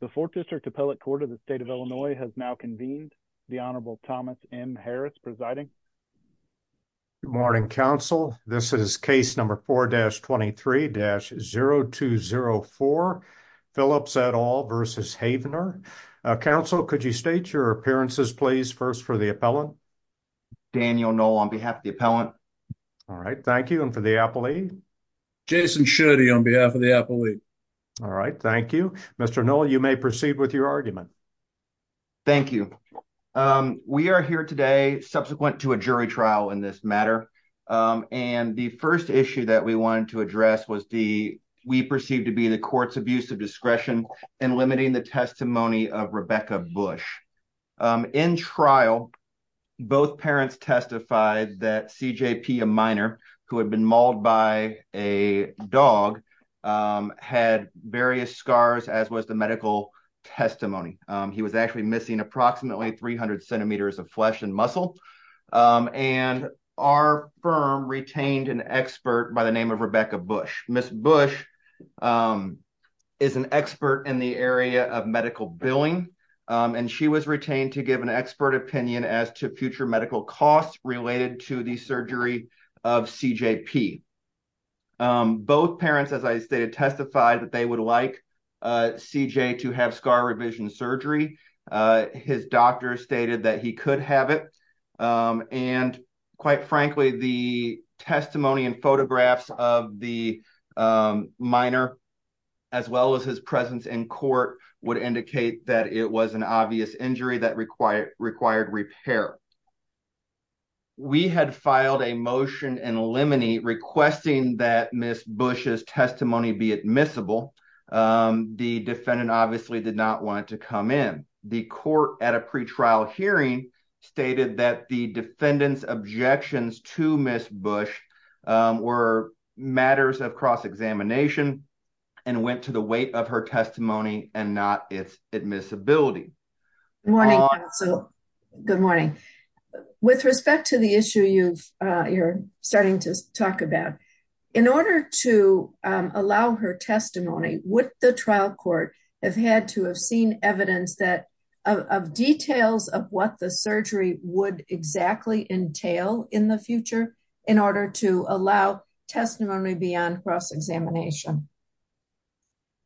The 4th District Appellate Court of the State of Illinois has now convened. The Honorable Thomas M. Harris presiding. Good morning, counsel. This is case number 4-23-0204, Phillips et al. v. Havenar. Counsel, could you state your appearances, please, first for the appellant? Daniel Noll on behalf of the appellant. All right. Thank you. And for the appellee? Jason Schutte on behalf of the appellee. All right. Thank you. Mr. Noll, you may proceed with your argument. Thank you. We are here today subsequent to a jury trial in this matter. And the first issue that we wanted to address was the we perceive to be the court's abuse of discretion and limiting the testimony of Rebecca Bush. In trial, both parents testified that CJP, a minor who had been mauled by a dog, had various scars, as was the medical testimony. He was actually missing approximately 300 centimeters of flesh and muscle. And our firm retained an expert by the name of Rebecca Bush. Ms. Bush is an expert in the area of medical billing, and she was retained to give an expert opinion as to future medical costs related to the surgery of CJP. Both parents, as I stated, testified that they would like CJ to have scar revision surgery. His doctor stated that he could have it. And quite frankly, the testimony and photographs of the minor, as well as his presence in court, would indicate that it was an obvious injury that required repair. We had filed a motion in limine requesting that Ms. Bush's testimony be admissible. The defendant obviously did not want to come in. The court at a pretrial hearing stated that the defendant's objections to Ms. Bush were matters of cross-examination and went to the weight of her testimony and not its admissibility. Good morning, counsel. Good morning. With respect to the issue you're starting to talk about, in order to allow her testimony, would the trial court have had to have seen evidence of details of what the surgery would exactly entail in the future in order to allow testimony beyond cross-examination?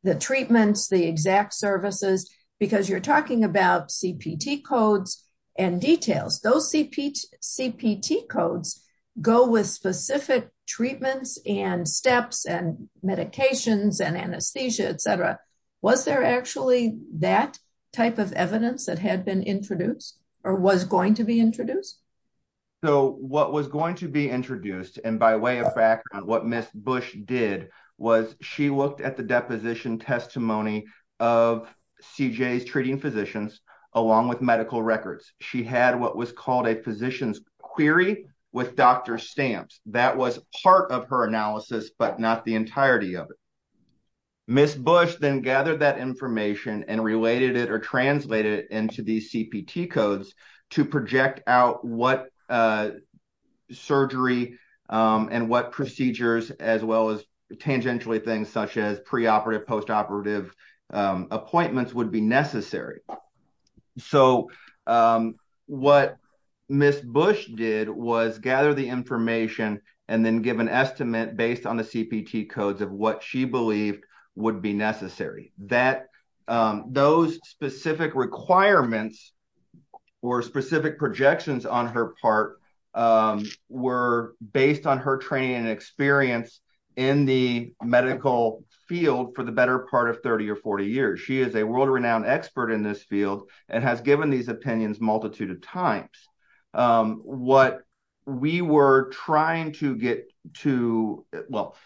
The treatments, the exact services, because you're talking about CPT codes and details. Those CPT codes go with specific treatments and steps and medications and anesthesia, etc. Was there actually that type of evidence that had been introduced or was going to be introduced? What was going to be introduced, and by way of fact, what Ms. Bush did, was she looked at the deposition testimony of CJ's treating physicians along with medical records. She had what was called a physician's query with doctor stamps. That was part of her analysis, but not the entirety of it. Ms. Bush then gathered that information and related it or translated it into these CPT codes to project out what surgery and what procedures, as well as tangentially things such as preoperative, postoperative appointments would be necessary. What Ms. Bush did was gather the information and then give an estimate based on the CPT codes of what she believed would be necessary. Those specific requirements or specific projections on her part were based on her training and experience in the medical field for the better part of 30 or 40 years. She is a world-renowned expert in this field and has given these opinions a multitude of times.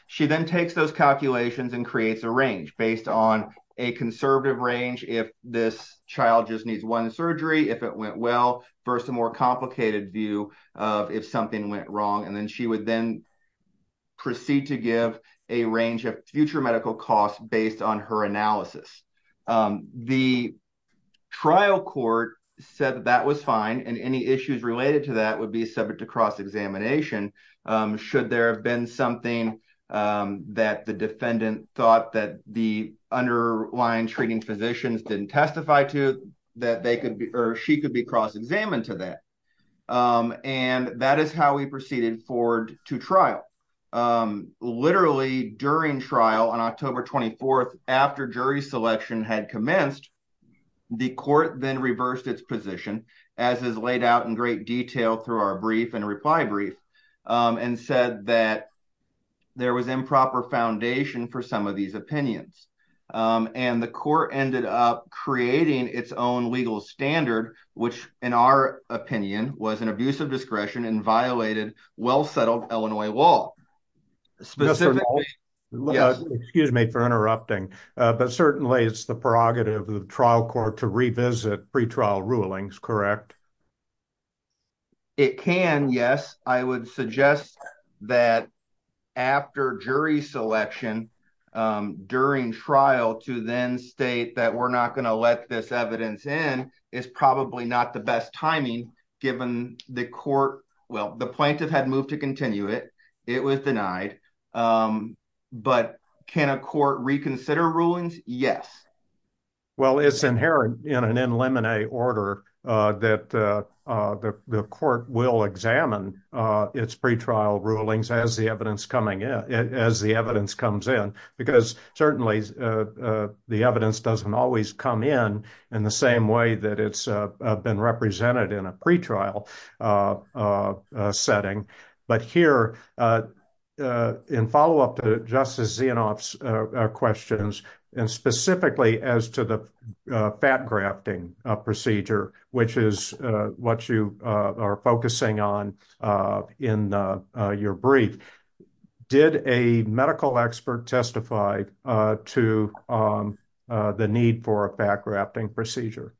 She then takes those calculations and creates a range based on a conservative range, if this child just needs one surgery, if it went well, versus a more complicated view of if something went wrong. She would then proceed to give a range of future medical costs based on her analysis. The trial court said that was fine and any issues related to that would be subject to cross-examination. Should there have been something that the defendant thought that the underlying treating physicians didn't testify to, she could be cross-examined to that. That is how we proceeded forward to trial. Literally during trial on October 24, after jury selection had commenced, the court then reversed its position, as is laid out in great detail through our brief and reply brief, and said that there was improper foundation for some of these opinions. The court ended up creating its own legal standard, which, in our opinion, was an abuse of discretion and violated well-settled Illinois law. Excuse me for interrupting, but certainly it is the prerogative of the trial court to revisit pre-trial rulings, correct? It can, yes. I would suggest that after jury selection, during trial, to then state that we're not going to let this evidence in is probably not the best timing, given the plaintiff had moved to continue it. It was denied. But can a court reconsider rulings? Yes. Well, it's inherent in an in limine order that the court will examine its pre-trial rulings as the evidence comes in, because certainly the evidence doesn't always come in in the same way that it's been represented in a pre-trial setting. But here, in follow-up to Justice Zianoff's questions, and specifically as to the fat grafting procedure, which is what you are focusing on in your brief, did a medical expert testify to the need for a fat grafting procedure?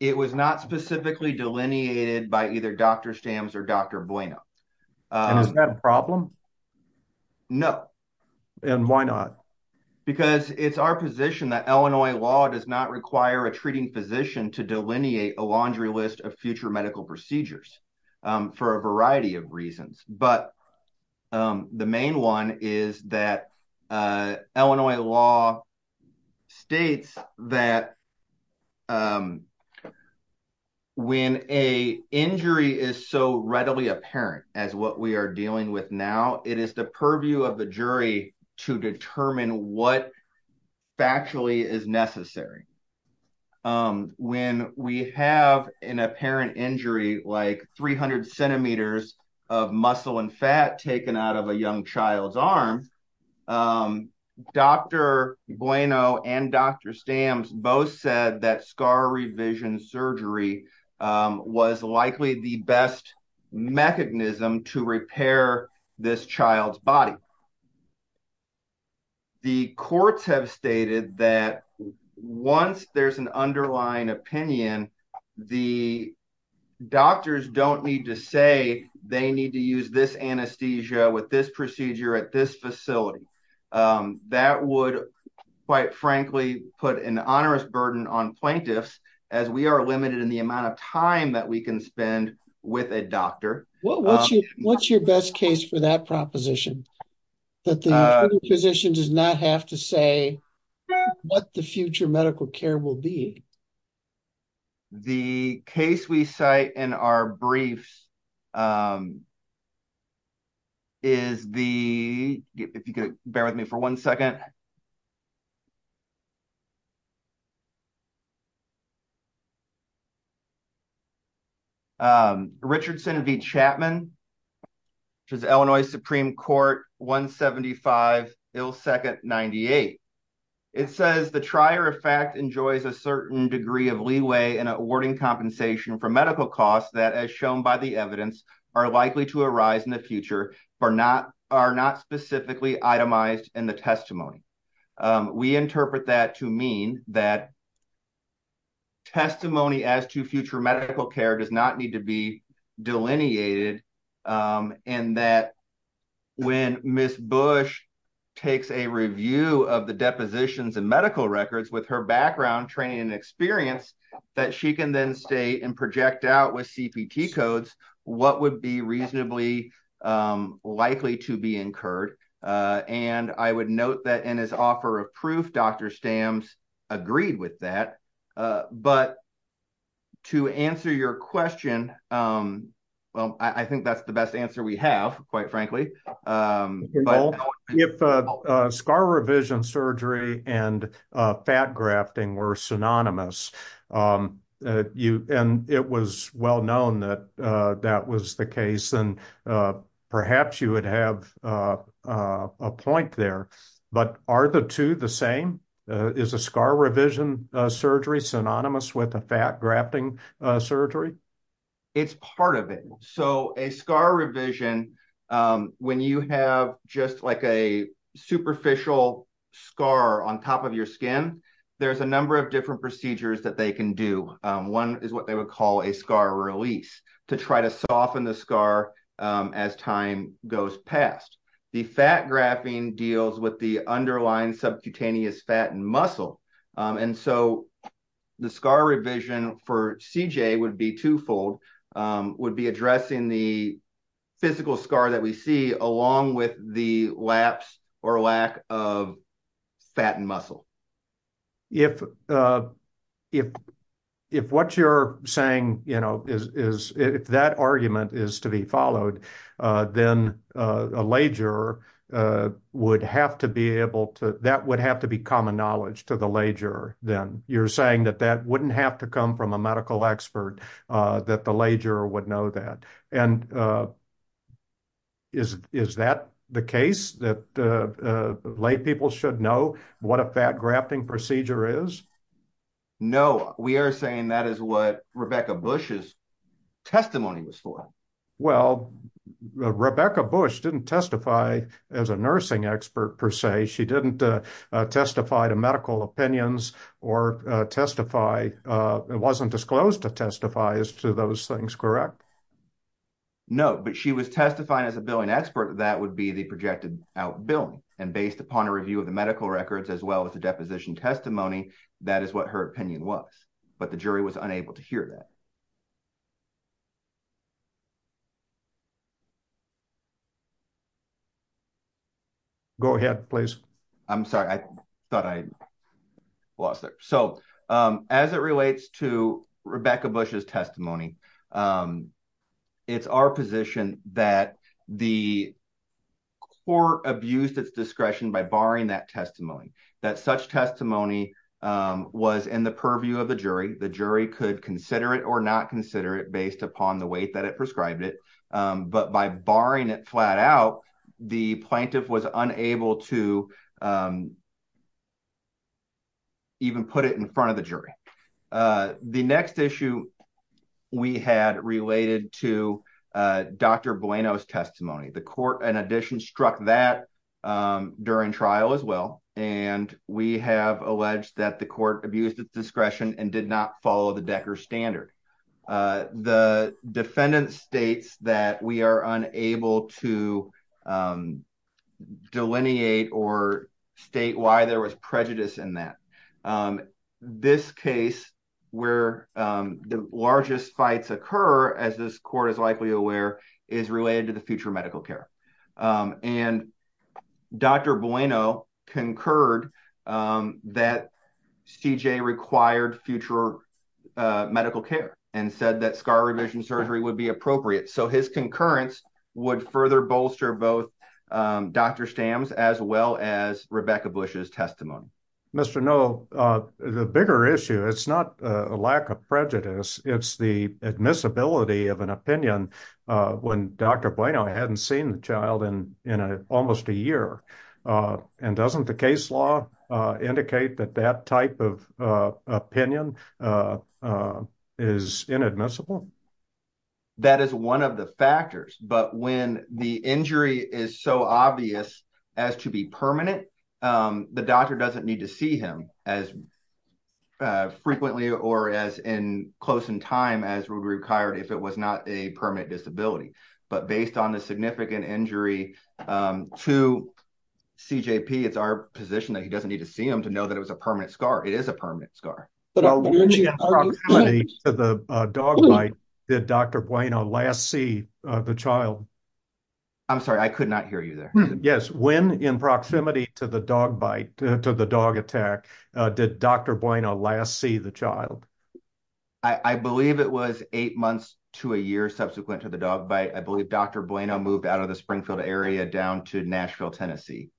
It was not specifically delineated by either Dr. Stams or Dr. Bueno. And is that a problem? No. And why not? Because it's our position that Illinois law does not require a treating physician to delineate a laundry list of future medical procedures for a variety of reasons. But the main one is that Illinois law states that when an injury is so readily apparent as what we are dealing with now, it is the purview of the jury to determine what factually is necessary. When we have an apparent injury like 300 centimeters of muscle and fat taken out of a young child's arm, Dr. Bueno and Dr. Stams both said that scar revision surgery was likely the best mechanism to repair this child's body. The courts have stated that once there's an underlying opinion, the doctors don't need to say they need to use this anesthesia with this procedure at this facility. That would, quite frankly, put an onerous burden on plaintiffs, as we are limited in the amount of time that we can spend with a doctor. What's your best case for that proposition? That the physician does not have to say what the future medical care will be? The case we cite in our briefs is the, if you could bear with me for one second. Richardson v. Chapman, Illinois Supreme Court, 175, Il 2nd, 98. It says the trier of fact enjoys a certain degree of leeway in awarding compensation for medical costs that, as shown by the evidence, are likely to arise in the future but are not specifically itemized in the testimony. We interpret that to mean that testimony as to future medical care does not need to be delineated and that when Ms. Bush takes a review of the depositions and medical records with her background, training, and experience, that she can then state and project out with CPT codes what would be reasonably likely to be incurred. And I would note that in his offer of proof, Dr. Stams agreed with that. But to answer your question, well, I think that's the best answer we have, quite frankly. If scar revision surgery and fat grafting were synonymous, and it was well known that that was the case, and perhaps you would have a point there, but are the two the same? Is a scar revision surgery synonymous with a fat grafting surgery? It's part of it. So a scar revision, when you have just like a superficial scar on top of your skin, there's a number of different procedures that they can do. One is what they would call a scar release to try to soften the scar as time goes past. The fat grafting deals with the underlying subcutaneous fat and muscle. And so the scar revision for CJ would be twofold, would be addressing the physical scar that we see along with the lapse or lack of fat and muscle. If what you're saying is, if that argument is to be followed, then a lay juror would have to be able to, that would have to be common knowledge to the lay juror then. You're saying that that wouldn't have to come from a medical expert, that the lay juror would know that. And is that the case that lay people should know what a fat grafting procedure is? No, we are saying that is what Rebecca Bush's testimony was for. Well, Rebecca Bush didn't testify as a nursing expert per se. She didn't testify to medical opinions or testify, wasn't disclosed to testify as to those things, correct? No, but she was testifying as a billing expert, that would be the projected out billing. And based upon a review of the medical records as well as the deposition testimony, that is what her opinion was. But the jury was unable to hear that. Go ahead, please. I'm sorry, I thought I lost it. So as it relates to Rebecca Bush's testimony, it's our position that the court abused its discretion by barring that testimony, that such testimony was in the purview of the jury. The jury could consider it or not consider it based upon the way that it prescribed it. But by barring it flat out, the plaintiff was unable to even put it in front of the jury. The next issue we had related to Dr. Bueno's testimony, the court, in addition, struck that during trial as well. And we have alleged that the court abused its discretion and did not follow the Decker standard. The defendant states that we are unable to delineate or state why there was prejudice in that. This case where the largest fights occur, as this court is likely aware, is related to the future medical care. And Dr. Bueno concurred that CJ required future medical care and said that scar revision surgery would be appropriate. So his concurrence would further bolster both Dr. Stam's as well as Rebecca Bush's testimony. Mr. No, the bigger issue, it's not a lack of prejudice, it's the admissibility of an opinion when Dr. Bueno hadn't seen the child in almost a year. And doesn't the case law indicate that that type of opinion is inadmissible? That is one of the factors. But when the injury is so obvious as to be permanent, the doctor doesn't need to see him as frequently or as close in time as would be required if it was not a permanent disability. But based on the significant injury to CJP, it's our position that he doesn't need to see him to know that it was a permanent scar. It is a permanent scar. When in proximity to the dog bite, did Dr. Bueno last see the child? I'm sorry, I could not hear you there. Yes, when in proximity to the dog bite, to the dog attack, did Dr. Bueno last see the child? I believe it was eight months to a year subsequent to the dog bite. I believe Dr. Bueno moved out of the Springfield area down to Nashville, Tennessee.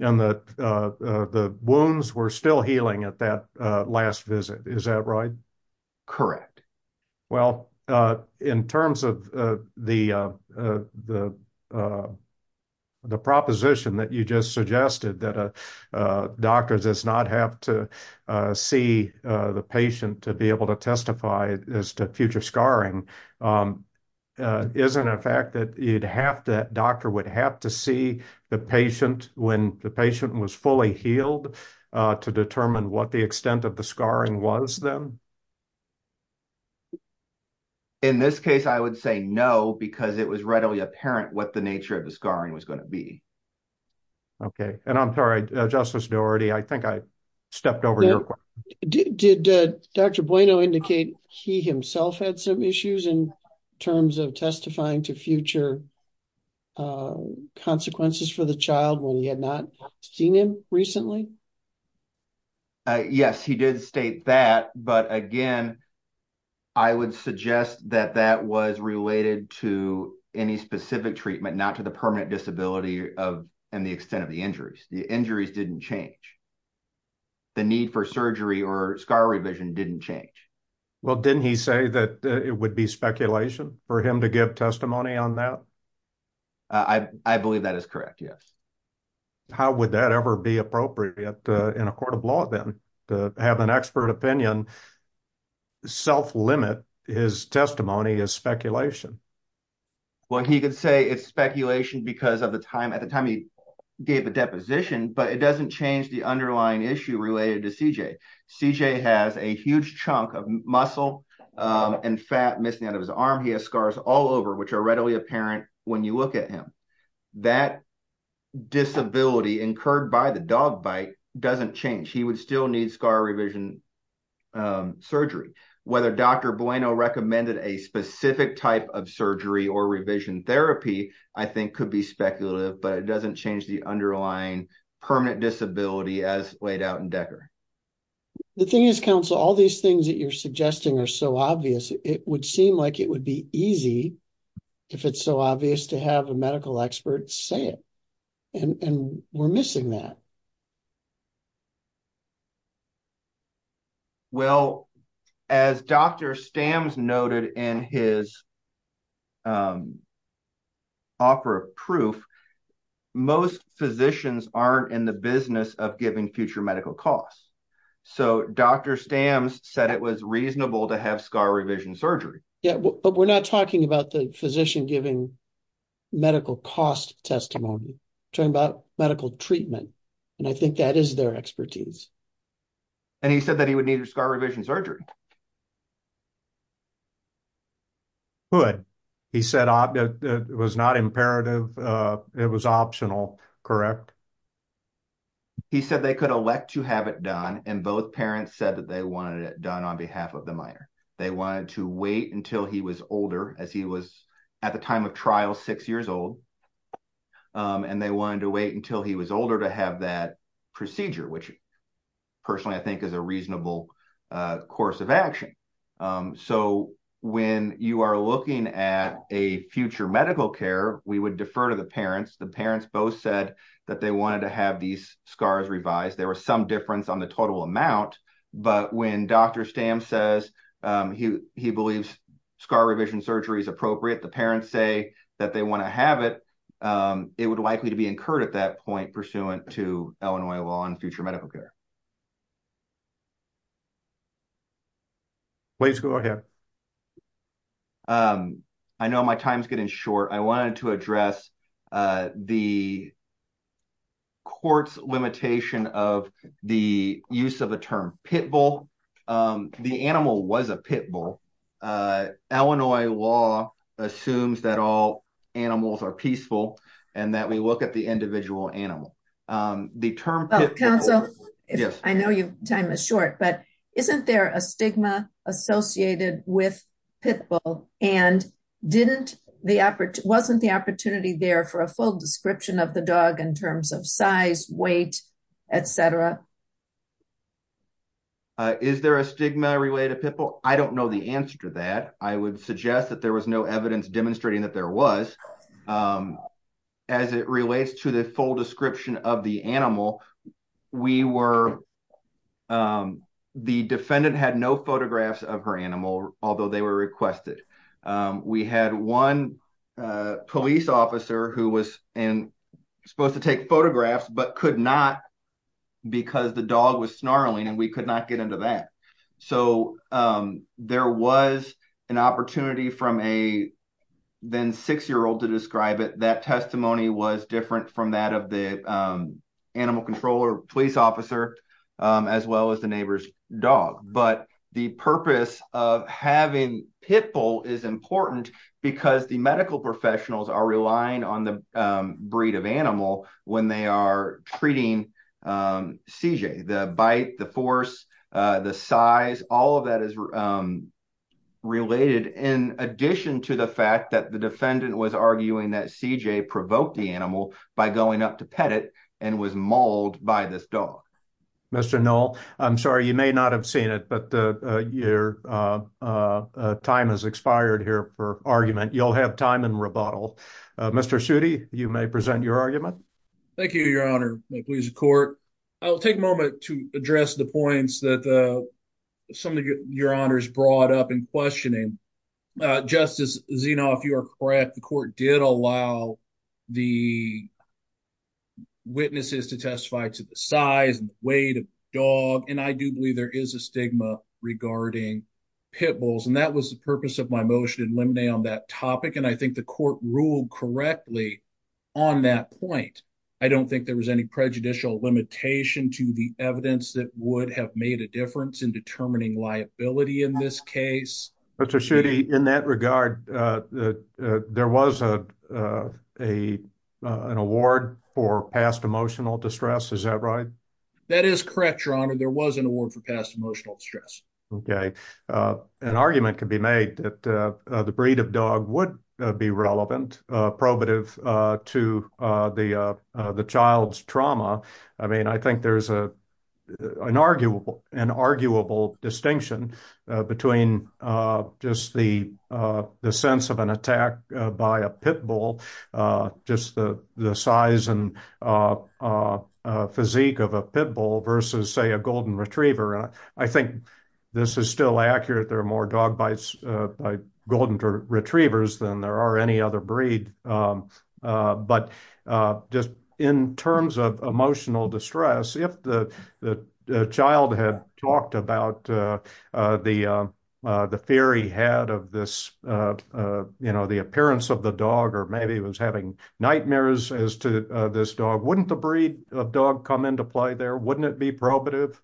And the wounds were still healing at that last visit, is that right? Correct. Well, in terms of the proposition that you just suggested, that a doctor does not have to see the patient to be able to testify as to future scarring, isn't it a fact that the doctor would have to see the patient when the patient was fully healed to determine what the extent of the scarring was then? In this case, I would say no, because it was readily apparent what the nature of the scarring was going to be. Okay, and I'm sorry, Justice Doherty, I think I stepped over your question. Did Dr. Bueno indicate he himself had some issues in terms of testifying to future consequences for the child when he had not seen him recently? Yes, he did state that, but again, I would suggest that that was related to any specific treatment, not to the permanent disability and the extent of the injuries. The injuries didn't change. The need for surgery or scar revision didn't change. Well, didn't he say that it would be speculation for him to give testimony on that? I believe that is correct, yes. How would that ever be appropriate in a court of law then, to have an expert opinion self-limit his testimony as speculation? Well, he could say it's speculation because at the time he gave a deposition, but it doesn't change the underlying issue related to CJ. CJ has a huge chunk of muscle and fat missing out of his arm. He has scars all over, which are readily apparent when you look at him. That disability incurred by the dog bite doesn't change. He would still need scar revision surgery. Whether Dr. Bueno recommended a specific type of surgery or revision therapy, I think could be speculative, but it doesn't change the underlying permanent disability as laid out in Decker. The thing is, counsel, all these things that you're suggesting are so obvious, it would seem like it would be easy, if it's so obvious, to have a medical expert say it, and we're missing that. Well, as Dr. Stams noted in his offer of proof, most physicians aren't in the business of giving future medical costs. So Dr. Stams said it was reasonable to have scar revision surgery. Yeah, but we're not talking about the physician giving medical cost testimony. We're talking about medical treatment, and I think that is their expertise. And he said that he would need scar revision surgery. He said it was not imperative, it was optional, correct? He said they could elect to have it done, and both parents said that they wanted it done on behalf of the minor. They wanted to wait until he was older, as he was at the time of trial six years old, and they wanted to wait until he was older to have that procedure, which personally I think is a reasonable course of action. So when you are looking at a future medical care, we would defer to the parents. The parents both said that they wanted to have these scars revised. There was some difference on the total amount, but when Dr. Stams says he believes scar revision surgery is appropriate, the parents say that they want to have it, it would likely to be incurred at that point, pursuant to Illinois law and future medical care. Please go ahead. I know my time is getting short. I wanted to address the court's limitation of the use of the term pit bull. The animal was a pit bull. Illinois law assumes that all animals are peaceful, and that we look at the individual animal. Counsel, I know your time is short, but isn't there a stigma associated with pit bull, and wasn't the opportunity there for a full description of the dog in terms of size, weight, et cetera? Is there a stigma related to pit bull? I don't know the answer to that. I would suggest that there was no evidence demonstrating that there was. As it relates to the full description of the animal, the defendant had no photographs of her animal, although they were requested. We had one police officer who was supposed to take photographs, but could not because the dog was snarling, and we could not get into that. There was an opportunity from a six-year-old to describe it. That testimony was different from that of the animal controller police officer, as well as the neighbor's dog. The purpose of having pit bull is important because the medical professionals are relying on the breed of animal when they are treating CJ. The bite, the force, the size, all of that is related, in addition to the fact that the defendant was arguing that CJ provoked the animal by going up to pet it and was mauled by this dog. Mr. Knoll, I'm sorry, you may not have seen it, but your time has expired here for argument. You'll have time in rebuttal. Mr. Suti, you may present your argument. Thank you, Your Honor. May it please the court. I'll take a moment to address the points that some of Your Honors brought up in questioning. Justice Zinoff, you are correct. The court did allow the witnesses to testify to the size and weight of the dog, and I do believe there is a stigma regarding pit bulls. And that was the purpose of my motion in limine on that topic, and I think the court ruled correctly on that point. I don't think there was any prejudicial limitation to the evidence that would have made a difference in determining liability in this case. Mr. Suti, in that regard, there was an award for past emotional distress, is that right? That is correct, Your Honor. There was an award for past emotional distress. Okay. An argument could be made that the breed of dog would be relevant, probative to the child's trauma. I mean, I think there's an arguable distinction between just the sense of an attack by a pit bull, just the size and physique of a pit bull versus, say, a golden retriever. I think this is still accurate. There are more dog bites by golden retrievers than there are any other breed. But just in terms of emotional distress, if the child had talked about the fear he had of this, you know, the appearance of the dog or maybe was having nightmares as to this dog, wouldn't the breed of dog come into play there? Wouldn't it be probative?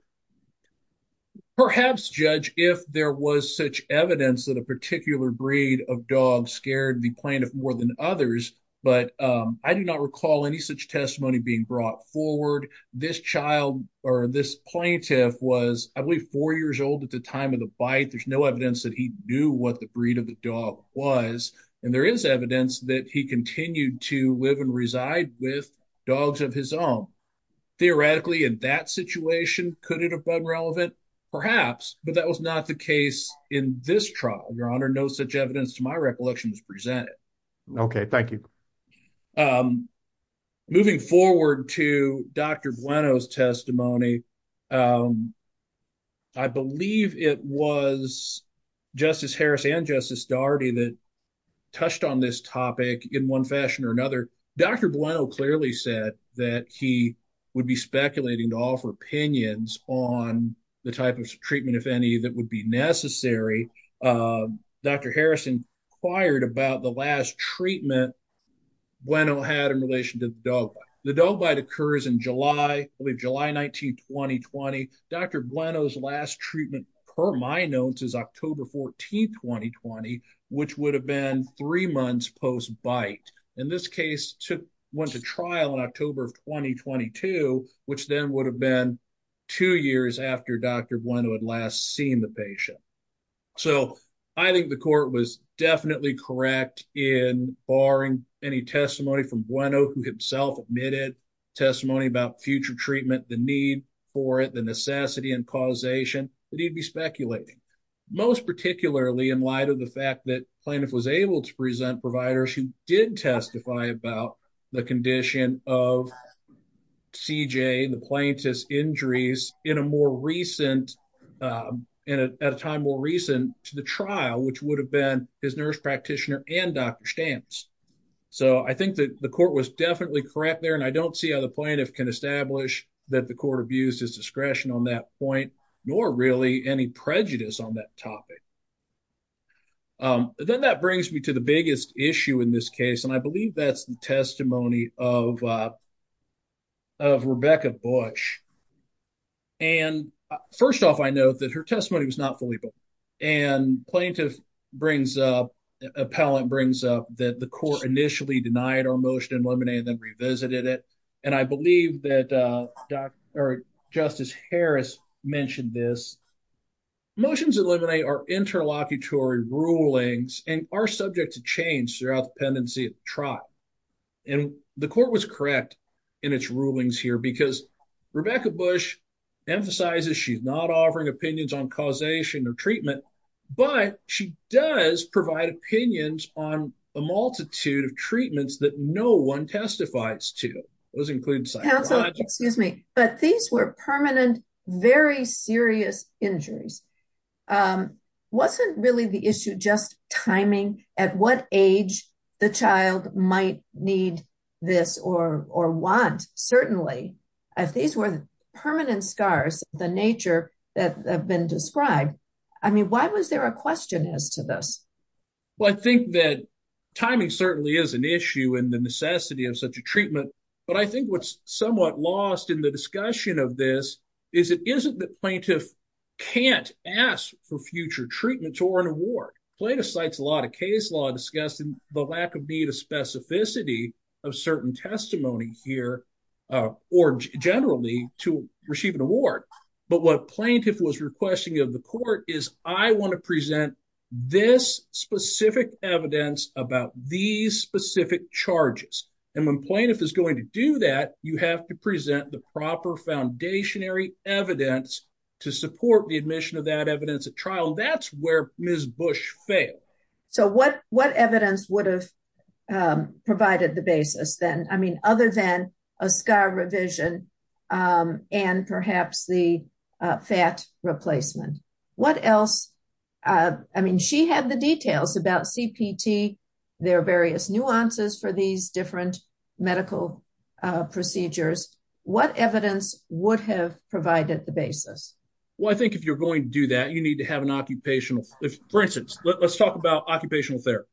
Perhaps, Judge, if there was such evidence that a particular breed of dog scared the plaintiff more than others. But I do not recall any such testimony being brought forward. This child or this plaintiff was, I believe, four years old at the time of the bite. There's no evidence that he knew what the breed of the dog was. And there is evidence that he continued to live and reside with dogs of his own. Theoretically, in that situation, could it have been relevant? Perhaps, but that was not the case in this trial, Your Honor. No such evidence to my recollection was presented. OK, thank you. Moving forward to Dr. Dr. Bueno clearly said that he would be speculating to offer opinions on the type of treatment, if any, that would be necessary. Dr. Harrison inquired about the last treatment Bueno had in relation to the dog bite. The dog bite occurs in July, July 19, 2020. Dr. Bueno's last treatment, per my notes, is October 14, 2020, which would have been three months post-bite. In this case, went to trial in October of 2022, which then would have been two years after Dr. Bueno had last seen the patient. So I think the court was definitely correct in barring any testimony from Bueno, who himself admitted testimony about future treatment, the need for it, the necessity and causation that he'd be speculating. Most particularly in light of the fact that plaintiff was able to present providers who did testify about the condition of CJ, the plaintiff's injuries in a more recent, at a time more recent to the trial, which would have been his nurse practitioner and Dr. Stamps. So I think that the court was definitely correct there. And I don't see how the plaintiff can establish that the court abused his discretion on that point, nor really any prejudice on that topic. Then that brings me to the biggest issue in this case, and I believe that's the testimony of. Of Rebecca Bush. And first off, I know that her testimony was not fully. And plaintiff brings up appellant brings up that the court initially denied our motion, eliminated, then revisited it. And I believe that Dr. Justice Harris mentioned this. Motions eliminate our interlocutory rulings and are subject to change throughout the pendency of trial. And the court was correct in its rulings here because Rebecca Bush emphasizes she's not offering opinions on causation or treatment, but she does provide opinions on a multitude of treatments that no one testifies to those include. Excuse me, but these were permanent, very serious injuries. Wasn't really the issue just timing at what age the child might need this or or want. Certainly, if these were permanent scars, the nature that have been described. I mean, why was there a question as to this? Well, I think that timing certainly is an issue and the necessity of such a treatment, but I think what's somewhat lost in the discussion of this is it isn't the plaintiff. Can't ask for future treatment or an award plaintiff sites, a lot of case law discussing the lack of need of specificity of certain testimony here. Or generally to receive an award, but what plaintiff was requesting of the court is I want to present this specific evidence about these specific charges. And when plaintiff is going to do that, you have to present the proper foundationary evidence to support the admission of that evidence at trial. That's where Miss Bush fail. So what what evidence would have provided the basis then? I mean, other than a scar revision and perhaps the fat replacement, what else? I mean, she had the details about CPT. There are various nuances for these different medical procedures. What evidence would have provided the basis? Well, I think if you're going to do that, you need to have an occupational. For instance, let's talk about occupational therapy.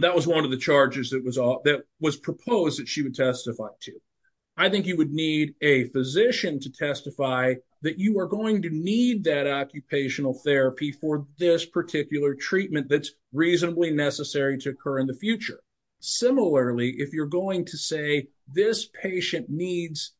That was one of the charges that was that was proposed that she would testify to. I think you would need a physician to testify that you are going to need that occupational therapy for this particular treatment that's reasonably necessary to occur in the future. Similarly, if you're going to say this patient needs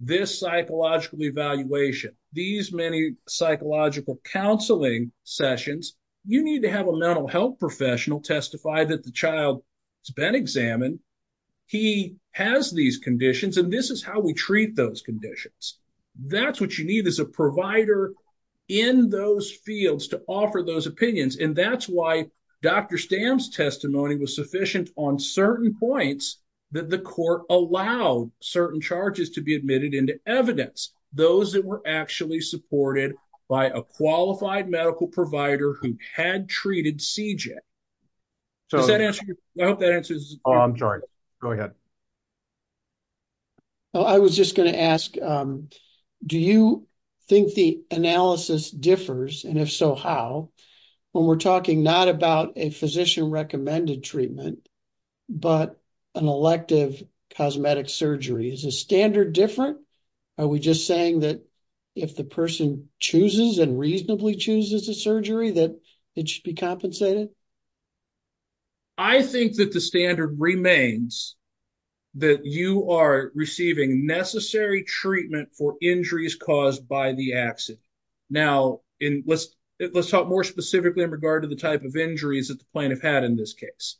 this psychological evaluation, these many psychological counseling sessions, you need to have a mental health professional testify that the child has been examined. He has these conditions and this is how we treat those conditions. That's what you need is a provider in those fields to offer those opinions. And that's why Dr. Stam's testimony was sufficient on certain points that the court allowed certain charges to be admitted into evidence. Those that were actually supported by a qualified medical provider who had treated CJ. So, I hope that answers. Oh, I'm sorry. Go ahead. I was just going to ask, do you think the analysis differs? And if so, how when we're talking not about a physician recommended treatment. But an elective cosmetic surgery is a standard different. Are we just saying that if the person chooses and reasonably chooses a surgery that it should be compensated? I think that the standard remains that you are receiving necessary treatment for injuries caused by the accident. Now, let's talk more specifically in regard to the type of injuries that the plaintiff had in this case.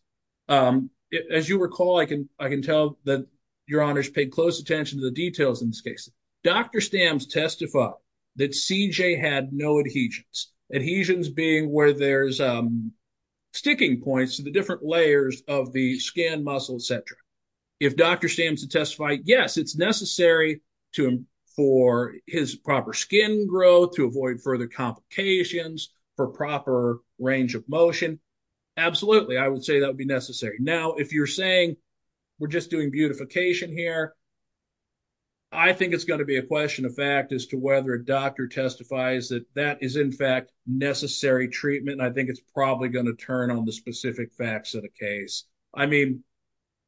As you recall, I can tell that your honors paid close attention to the details in this case. Dr. Stam's testified that CJ had no adhesions. Adhesions being where there's sticking points to the different layers of the skin, muscle, etc. If Dr. Stam's testified, yes, it's necessary for his proper skin growth to avoid further complications for proper range of motion. Absolutely, I would say that would be necessary. Now, if you're saying we're just doing beautification here, I think it's going to be a question of fact as to whether a doctor testifies that that is in fact necessary treatment. And I think it's probably going to turn on the specific facts of the case. I mean,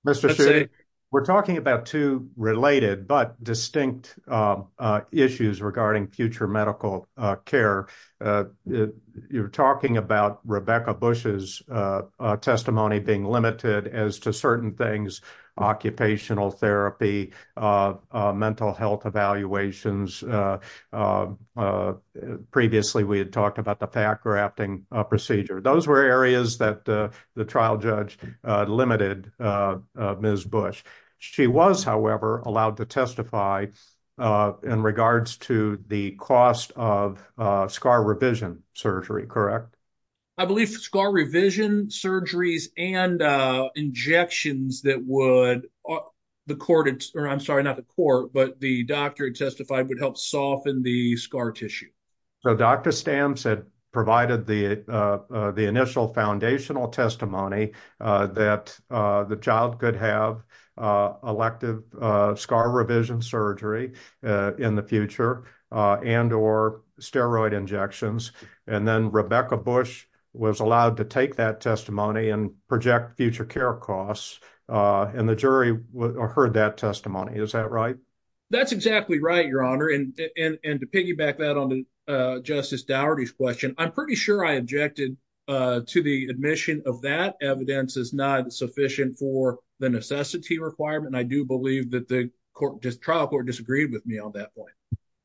Mr. Steele, we're talking about two related but distinct issues regarding future medical care. You're talking about Rebecca Bush's testimony being limited as to certain things, occupational therapy, mental health evaluations. Previously, we had talked about the pack rafting procedure. Those were areas that the trial judge limited Ms. Bush. She was, however, allowed to testify in regards to the cost of scar revision surgery, correct? I believe scar revision surgeries and injections that would, the court, I'm sorry, not the court, but the doctor testified would help soften the scar tissue. So Dr. Stamps had provided the initial foundational testimony that the child could have elective scar revision surgery in the future and or steroid injections. And then Rebecca Bush was allowed to take that testimony and project future care costs. And the jury heard that testimony. Is that right? That's exactly right, Your Honor. And to piggyback that on Justice Dougherty's question, I'm pretty sure I objected to the admission of that. Evidence is not sufficient for the necessity requirement. I do believe that the trial court disagreed with me on that point.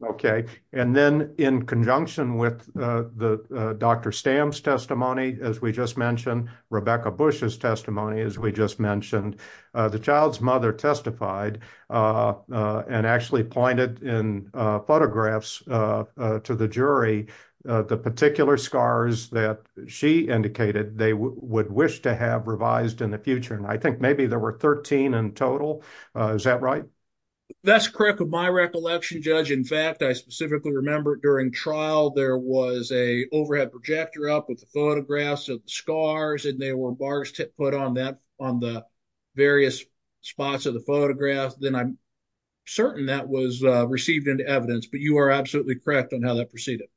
Okay. And then in conjunction with Dr. Stamps' testimony, as we just mentioned, Rebecca Bush's testimony, as we just mentioned, the child's mother testified and actually pointed in photographs to the jury the particular scars that she indicated they would wish to have revised in the future. And I think maybe there were 13 in total. Is that right? That's correct with my recollection, Judge. In fact, I specifically remember during trial, there was a overhead projector up with the photographs of scars and they were put on that on the various spots of the photographs. Then I'm certain that was received into evidence. But you are absolutely correct on how that proceeded.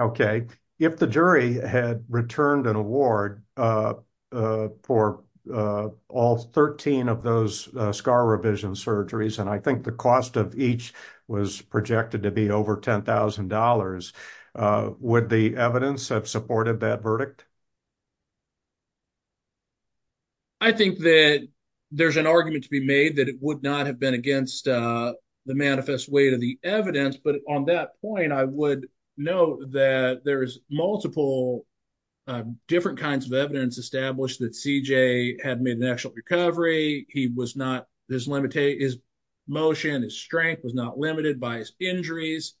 Okay. If the jury had returned an award for all 13 of those scar revision surgeries, and I think the cost of each was projected to be over $10,000, would the evidence have supported that verdict? I think that there's an argument to be made that it would not have been against the manifest weight of the evidence. But on that point, I would note that there is multiple different kinds of evidence established that CJ had made an actual recovery. His motion, his strength was not limited by his injuries,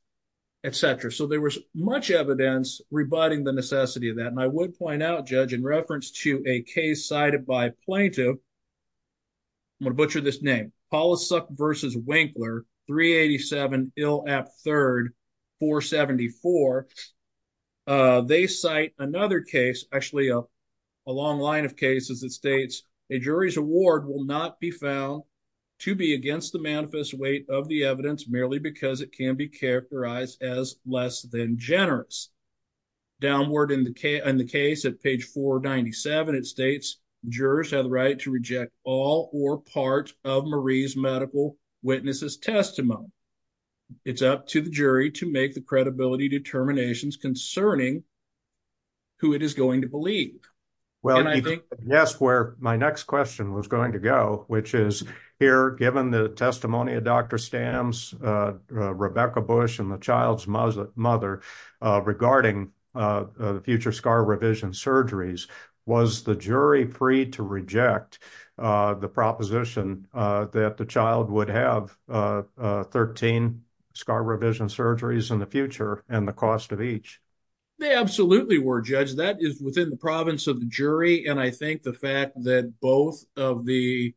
etc. So there was much evidence rebutting the necessity of that. I do want to point out, Judge, in reference to a case cited by plaintiff, I'm going to butcher this name, Polisuk v. Winkler, 387 Ill App 3rd, 474. They cite another case, actually a long line of cases that states, a jury's award will not be found to be against the manifest weight of the evidence merely because it can be characterized as less than generous. Downward in the case at page 497, it states, jurors have the right to reject all or part of Marie's medical witness's testimony. It's up to the jury to make the credibility determinations concerning who it is going to believe. Yes, where my next question was going to go, which is here, given the testimony of Dr. Stams, Rebecca Bush, and the child's mother, regarding the future scar revision surgeries, was the jury free to reject the proposition that the child would have 13 scar revision surgeries in the future and the cost of each? They absolutely were, Judge. That is within the province of the jury. And I think the fact that both of the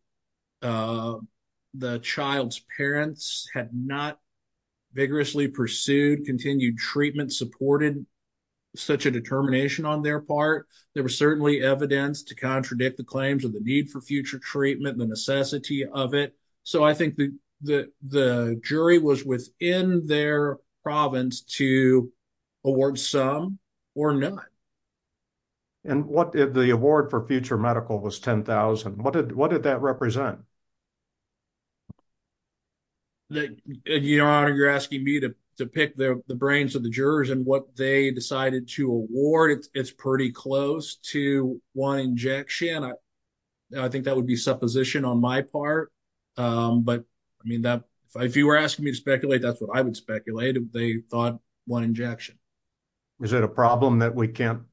child's parents had not vigorously pursued, continued treatment, supported such a determination on their part, there was certainly evidence to contradict the claims of the need for future treatment and the necessity of it. So I think the jury was within their province to award some or none. And what if the award for future medical was $10,000? What did that represent? Your Honor, you're asking me to pick the brains of the jurors and what they decided to award. It's pretty close to one injection. Again, I think that would be supposition on my part. But I mean, if you were asking me to speculate, that's what I would speculate. They thought one injection. Is it a problem that we can't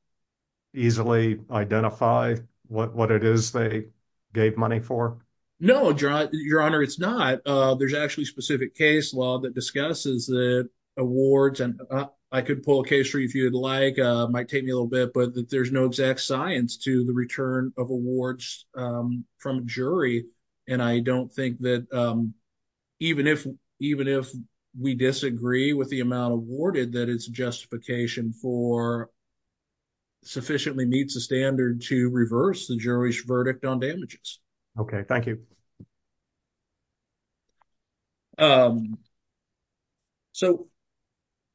easily identify what it is they gave money for? No, Your Honor, it's not. There's actually a specific case law that discusses the awards. And I could pull a case for you if you'd like. It might take me a little bit, but there's no exact science to the return of awards from a jury. And I don't think that even if we disagree with the amount awarded, that it's justification for sufficiently meets the standard to reverse the jury's verdict on damages. Okay, thank you. So,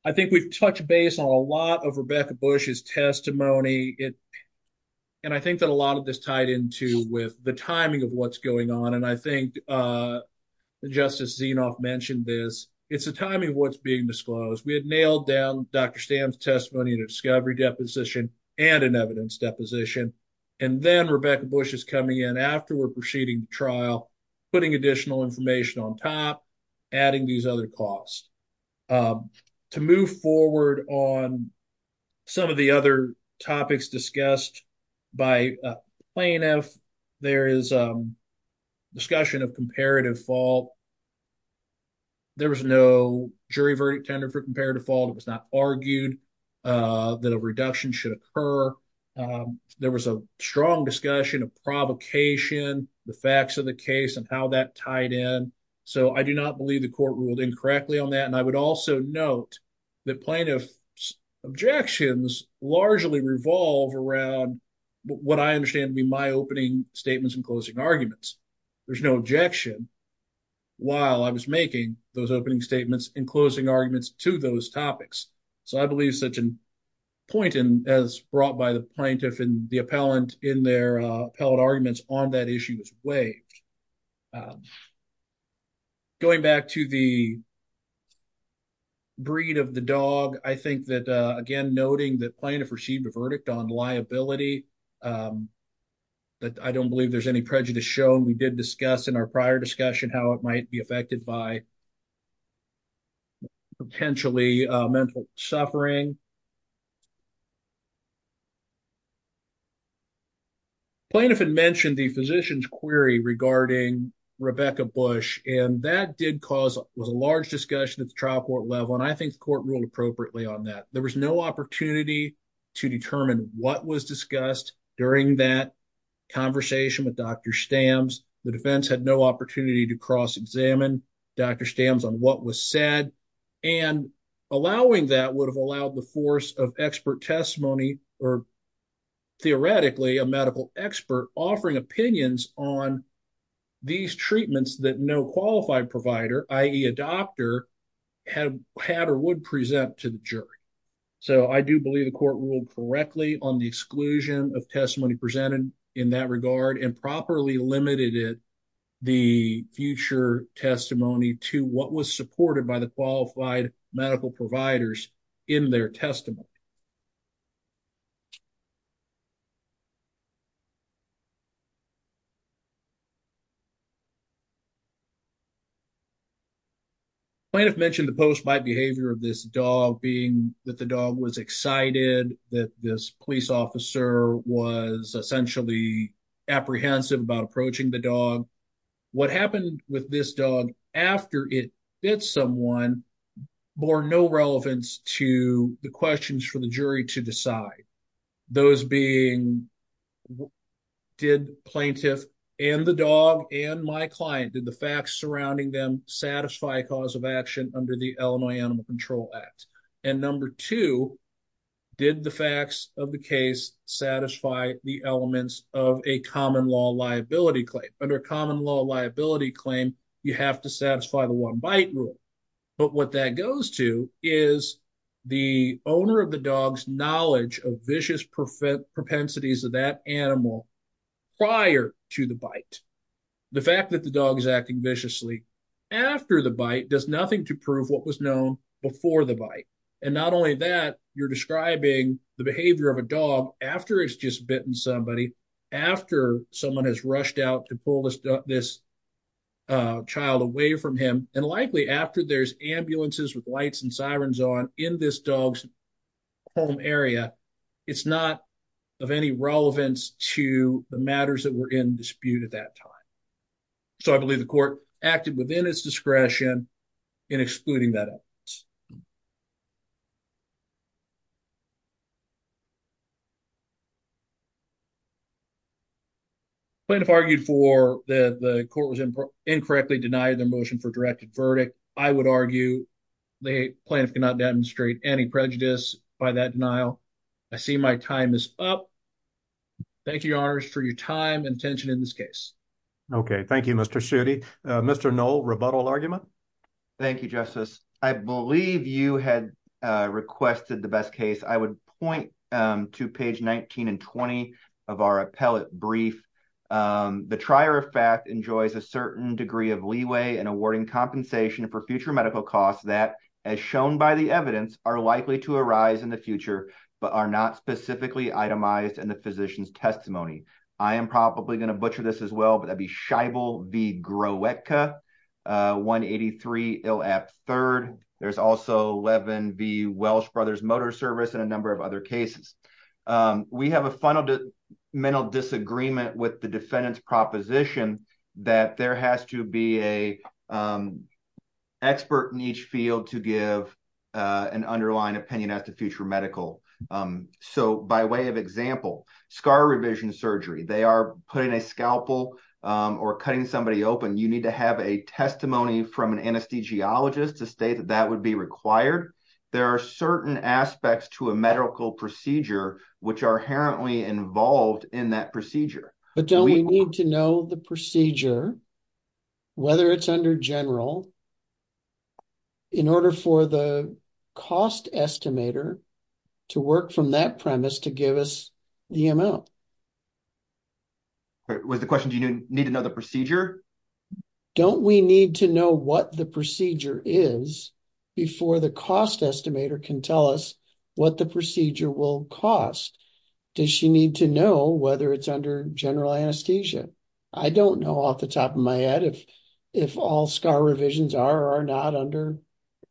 I think we've touched base on a lot of Rebecca Bush's testimony. And I think that a lot of this tied into with the timing of what's going on. And I think Justice Zinoff mentioned this. It's the timing of what's being disclosed. We had nailed down Dr. Stam's testimony in a discovery deposition and an evidence deposition. And then Rebecca Bush is coming in after we're proceeding trial, putting additional information on top, adding these other costs. To move forward on some of the other topics discussed by plaintiffs, there is a discussion of comparative fault. There was no jury verdict tender for comparative fault. It was not argued that a reduction should occur. There was a strong discussion of provocation, the facts of the case, and how that tied in. So, I do not believe the court ruled incorrectly on that. And I would also note that plaintiffs' objections largely revolve around what I understand to be my opening statements and closing arguments. There's no objection while I was making those opening statements and closing arguments to those topics. So, I believe such a point as brought by the plaintiff and the appellant in their appellate arguments on that issue was waived. Going back to the breed of the dog, I think that, again, noting that plaintiff received a verdict on liability, I don't believe there's any prejudice shown. We did discuss in our prior discussion how it might be affected by potentially mental suffering. Plaintiff had mentioned the physician's query regarding Rebecca Bush, and that did cause a large discussion at the trial court level, and I think the court ruled appropriately on that. There was no opportunity to determine what was discussed during that conversation with Dr. Stams. The defense had no opportunity to cross-examine Dr. Stams on what was said. And allowing that would have allowed the force of expert testimony or, theoretically, a medical expert offering opinions on these treatments that no qualified provider, i.e., a doctor, had or would present to the jury. So, I do believe the court ruled correctly on the exclusion of testimony presented in that regard and properly limited it, the future testimony, to what was supported by the qualified medical providers in their testimony. Plaintiff mentioned the post-mite behavior of this dog, being that the dog was excited, that this police officer was essentially apprehensive about approaching the dog. What happened with this dog after it bit someone bore no relevance to the questions for the jury to decide. Those being, did plaintiff and the dog and my client, did the facts surrounding them, satisfy a cause of action under the Illinois Animal Control Act? And number two, did the facts of the case satisfy the elements of a common law liability claim? Under a common law liability claim, you have to satisfy the one bite rule. But what that goes to is the owner of the dog's knowledge of vicious propensities of that animal prior to the bite. The fact that the dog is acting viciously after the bite does nothing to prove what was known before the bite. And not only that, you're describing the behavior of a dog after it's just bitten somebody, after someone has rushed out to pull this child away from him, and likely after there's ambulances with lights and sirens on in this dog's home area, it's not of any relevance to the matters that were in dispute at that time. So I believe the court acted within its discretion in excluding that evidence. Plaintiff argued for the court was incorrectly denied the motion for directed verdict. I would argue the plaintiff cannot demonstrate any prejudice by that denial. I see my time is up. Thank you, Your Honor, for your time and attention in this case. Okay, thank you, Mr. Schutte. Mr. Knoll, rebuttal argument? Thank you, Justice. I believe you had requested the best case. I would point to page 19 and 20 of our appellate brief. The trier of fact enjoys a certain degree of leeway in awarding compensation for future medical costs that, as shown by the evidence, are likely to arise in the future, but are not specifically itemized in the physician's testimony. I am probably going to butcher this as well, but that'd be Scheibel v. Groetka, 183 Ill App III. There's also Levin v. Welsh Brothers Motor Service and a number of other cases. We have a fundamental disagreement with the defendant's proposition that there has to be an expert in each field to give an underlying opinion as to future medical. So by way of example, scar revision surgery, they are putting a scalpel or cutting somebody open. You need to have a testimony from an anesthesiologist to state that that would be required. There are certain aspects to a medical procedure which are inherently involved in that procedure. But don't we need to know the procedure, whether it's under general, in order for the cost estimator to work from that premise to give us the amount? Was the question, do you need to know the procedure? Don't we need to know what the procedure is before the cost estimator can tell us what the procedure will cost? Does she need to know whether it's under general anesthesia? I don't know off the top of my head if all scar revisions are or are not under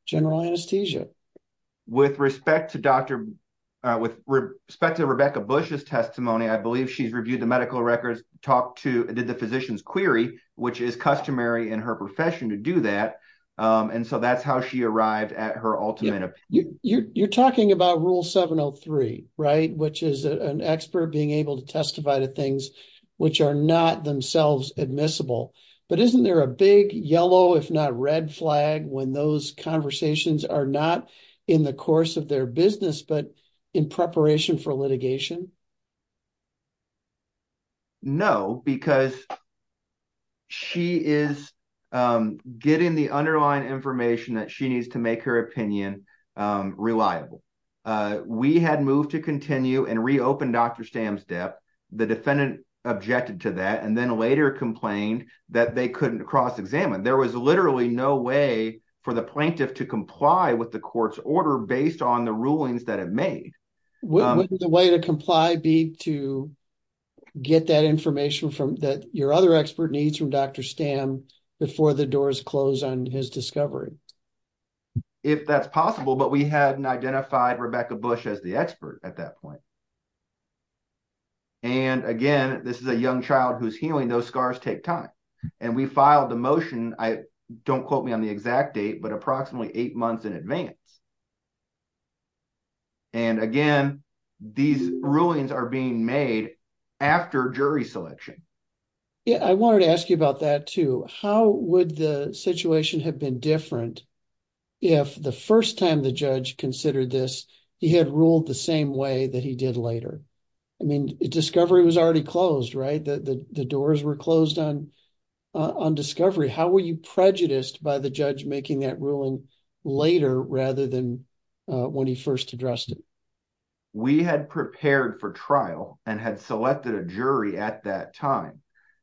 general anesthesia. With respect to Rebecca Bush's testimony, I believe she's reviewed the medical records, did the physician's query, which is customary in her profession to do that. And so that's how she arrived at her ultimate opinion. You're talking about Rule 703, which is an expert being able to testify to things which are not themselves admissible. But isn't there a big yellow, if not red flag when those conversations are not in the course of their business, but in preparation for litigation? No, because she is getting the underlying information that she needs to make her opinion reliable. We had moved to continue and reopen Dr. Stamm's death. The defendant objected to that and then later complained that they couldn't cross-examine. There was literally no way for the plaintiff to comply with the court's order based on the rulings that it made. Wouldn't the way to comply be to get that information that your other expert needs from Dr. Stamm before the doors close on his discovery? If that's possible, but we hadn't identified Rebecca Bush as the expert at that point. And again, this is a young child who's healing. Those scars take time. And we filed the motion, don't quote me on the exact date, but approximately eight months in advance. And again, these rulings are being made after jury selection. I wanted to ask you about that too. How would the situation have been different if the first time the judge considered this, he had ruled the same way that he did later? I mean, discovery was already closed, right? The doors were closed on discovery. How were you prejudiced by the judge making that ruling later rather than when he first addressed it? We had prepared for trial and had selected a jury at that time.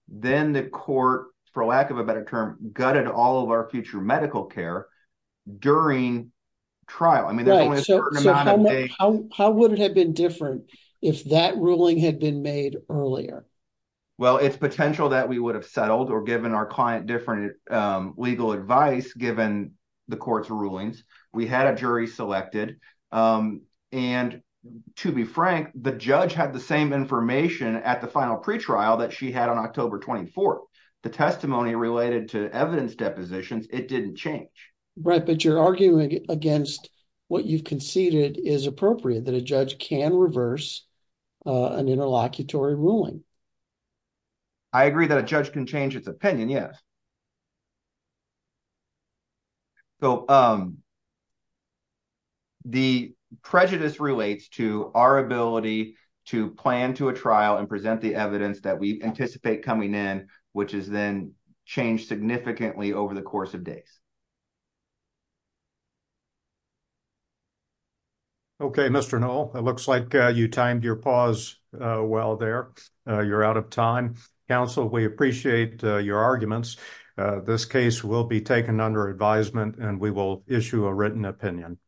Then the court, for lack of a better term, gutted all of our future medical care during trial. How would it have been different if that ruling had been made earlier? Well, it's potential that we would have settled or given our client different legal advice given the court's rulings. We had a jury selected, and to be frank, the judge had the same information at the final pretrial that she had on October 24th. The testimony related to evidence depositions, it didn't change. Right, but you're arguing against what you've conceded is appropriate, that a judge can reverse an interlocutory ruling. I agree that a judge can change its opinion, yes. So, the prejudice relates to our ability to plan to a trial and present the evidence that we anticipate coming in, which has then changed significantly over the course of days. Okay, Mr. Noll, it looks like you timed your pause well there. You're out of time. Counsel, we appreciate your arguments. This case will be taken under advisement and we will issue a written opinion.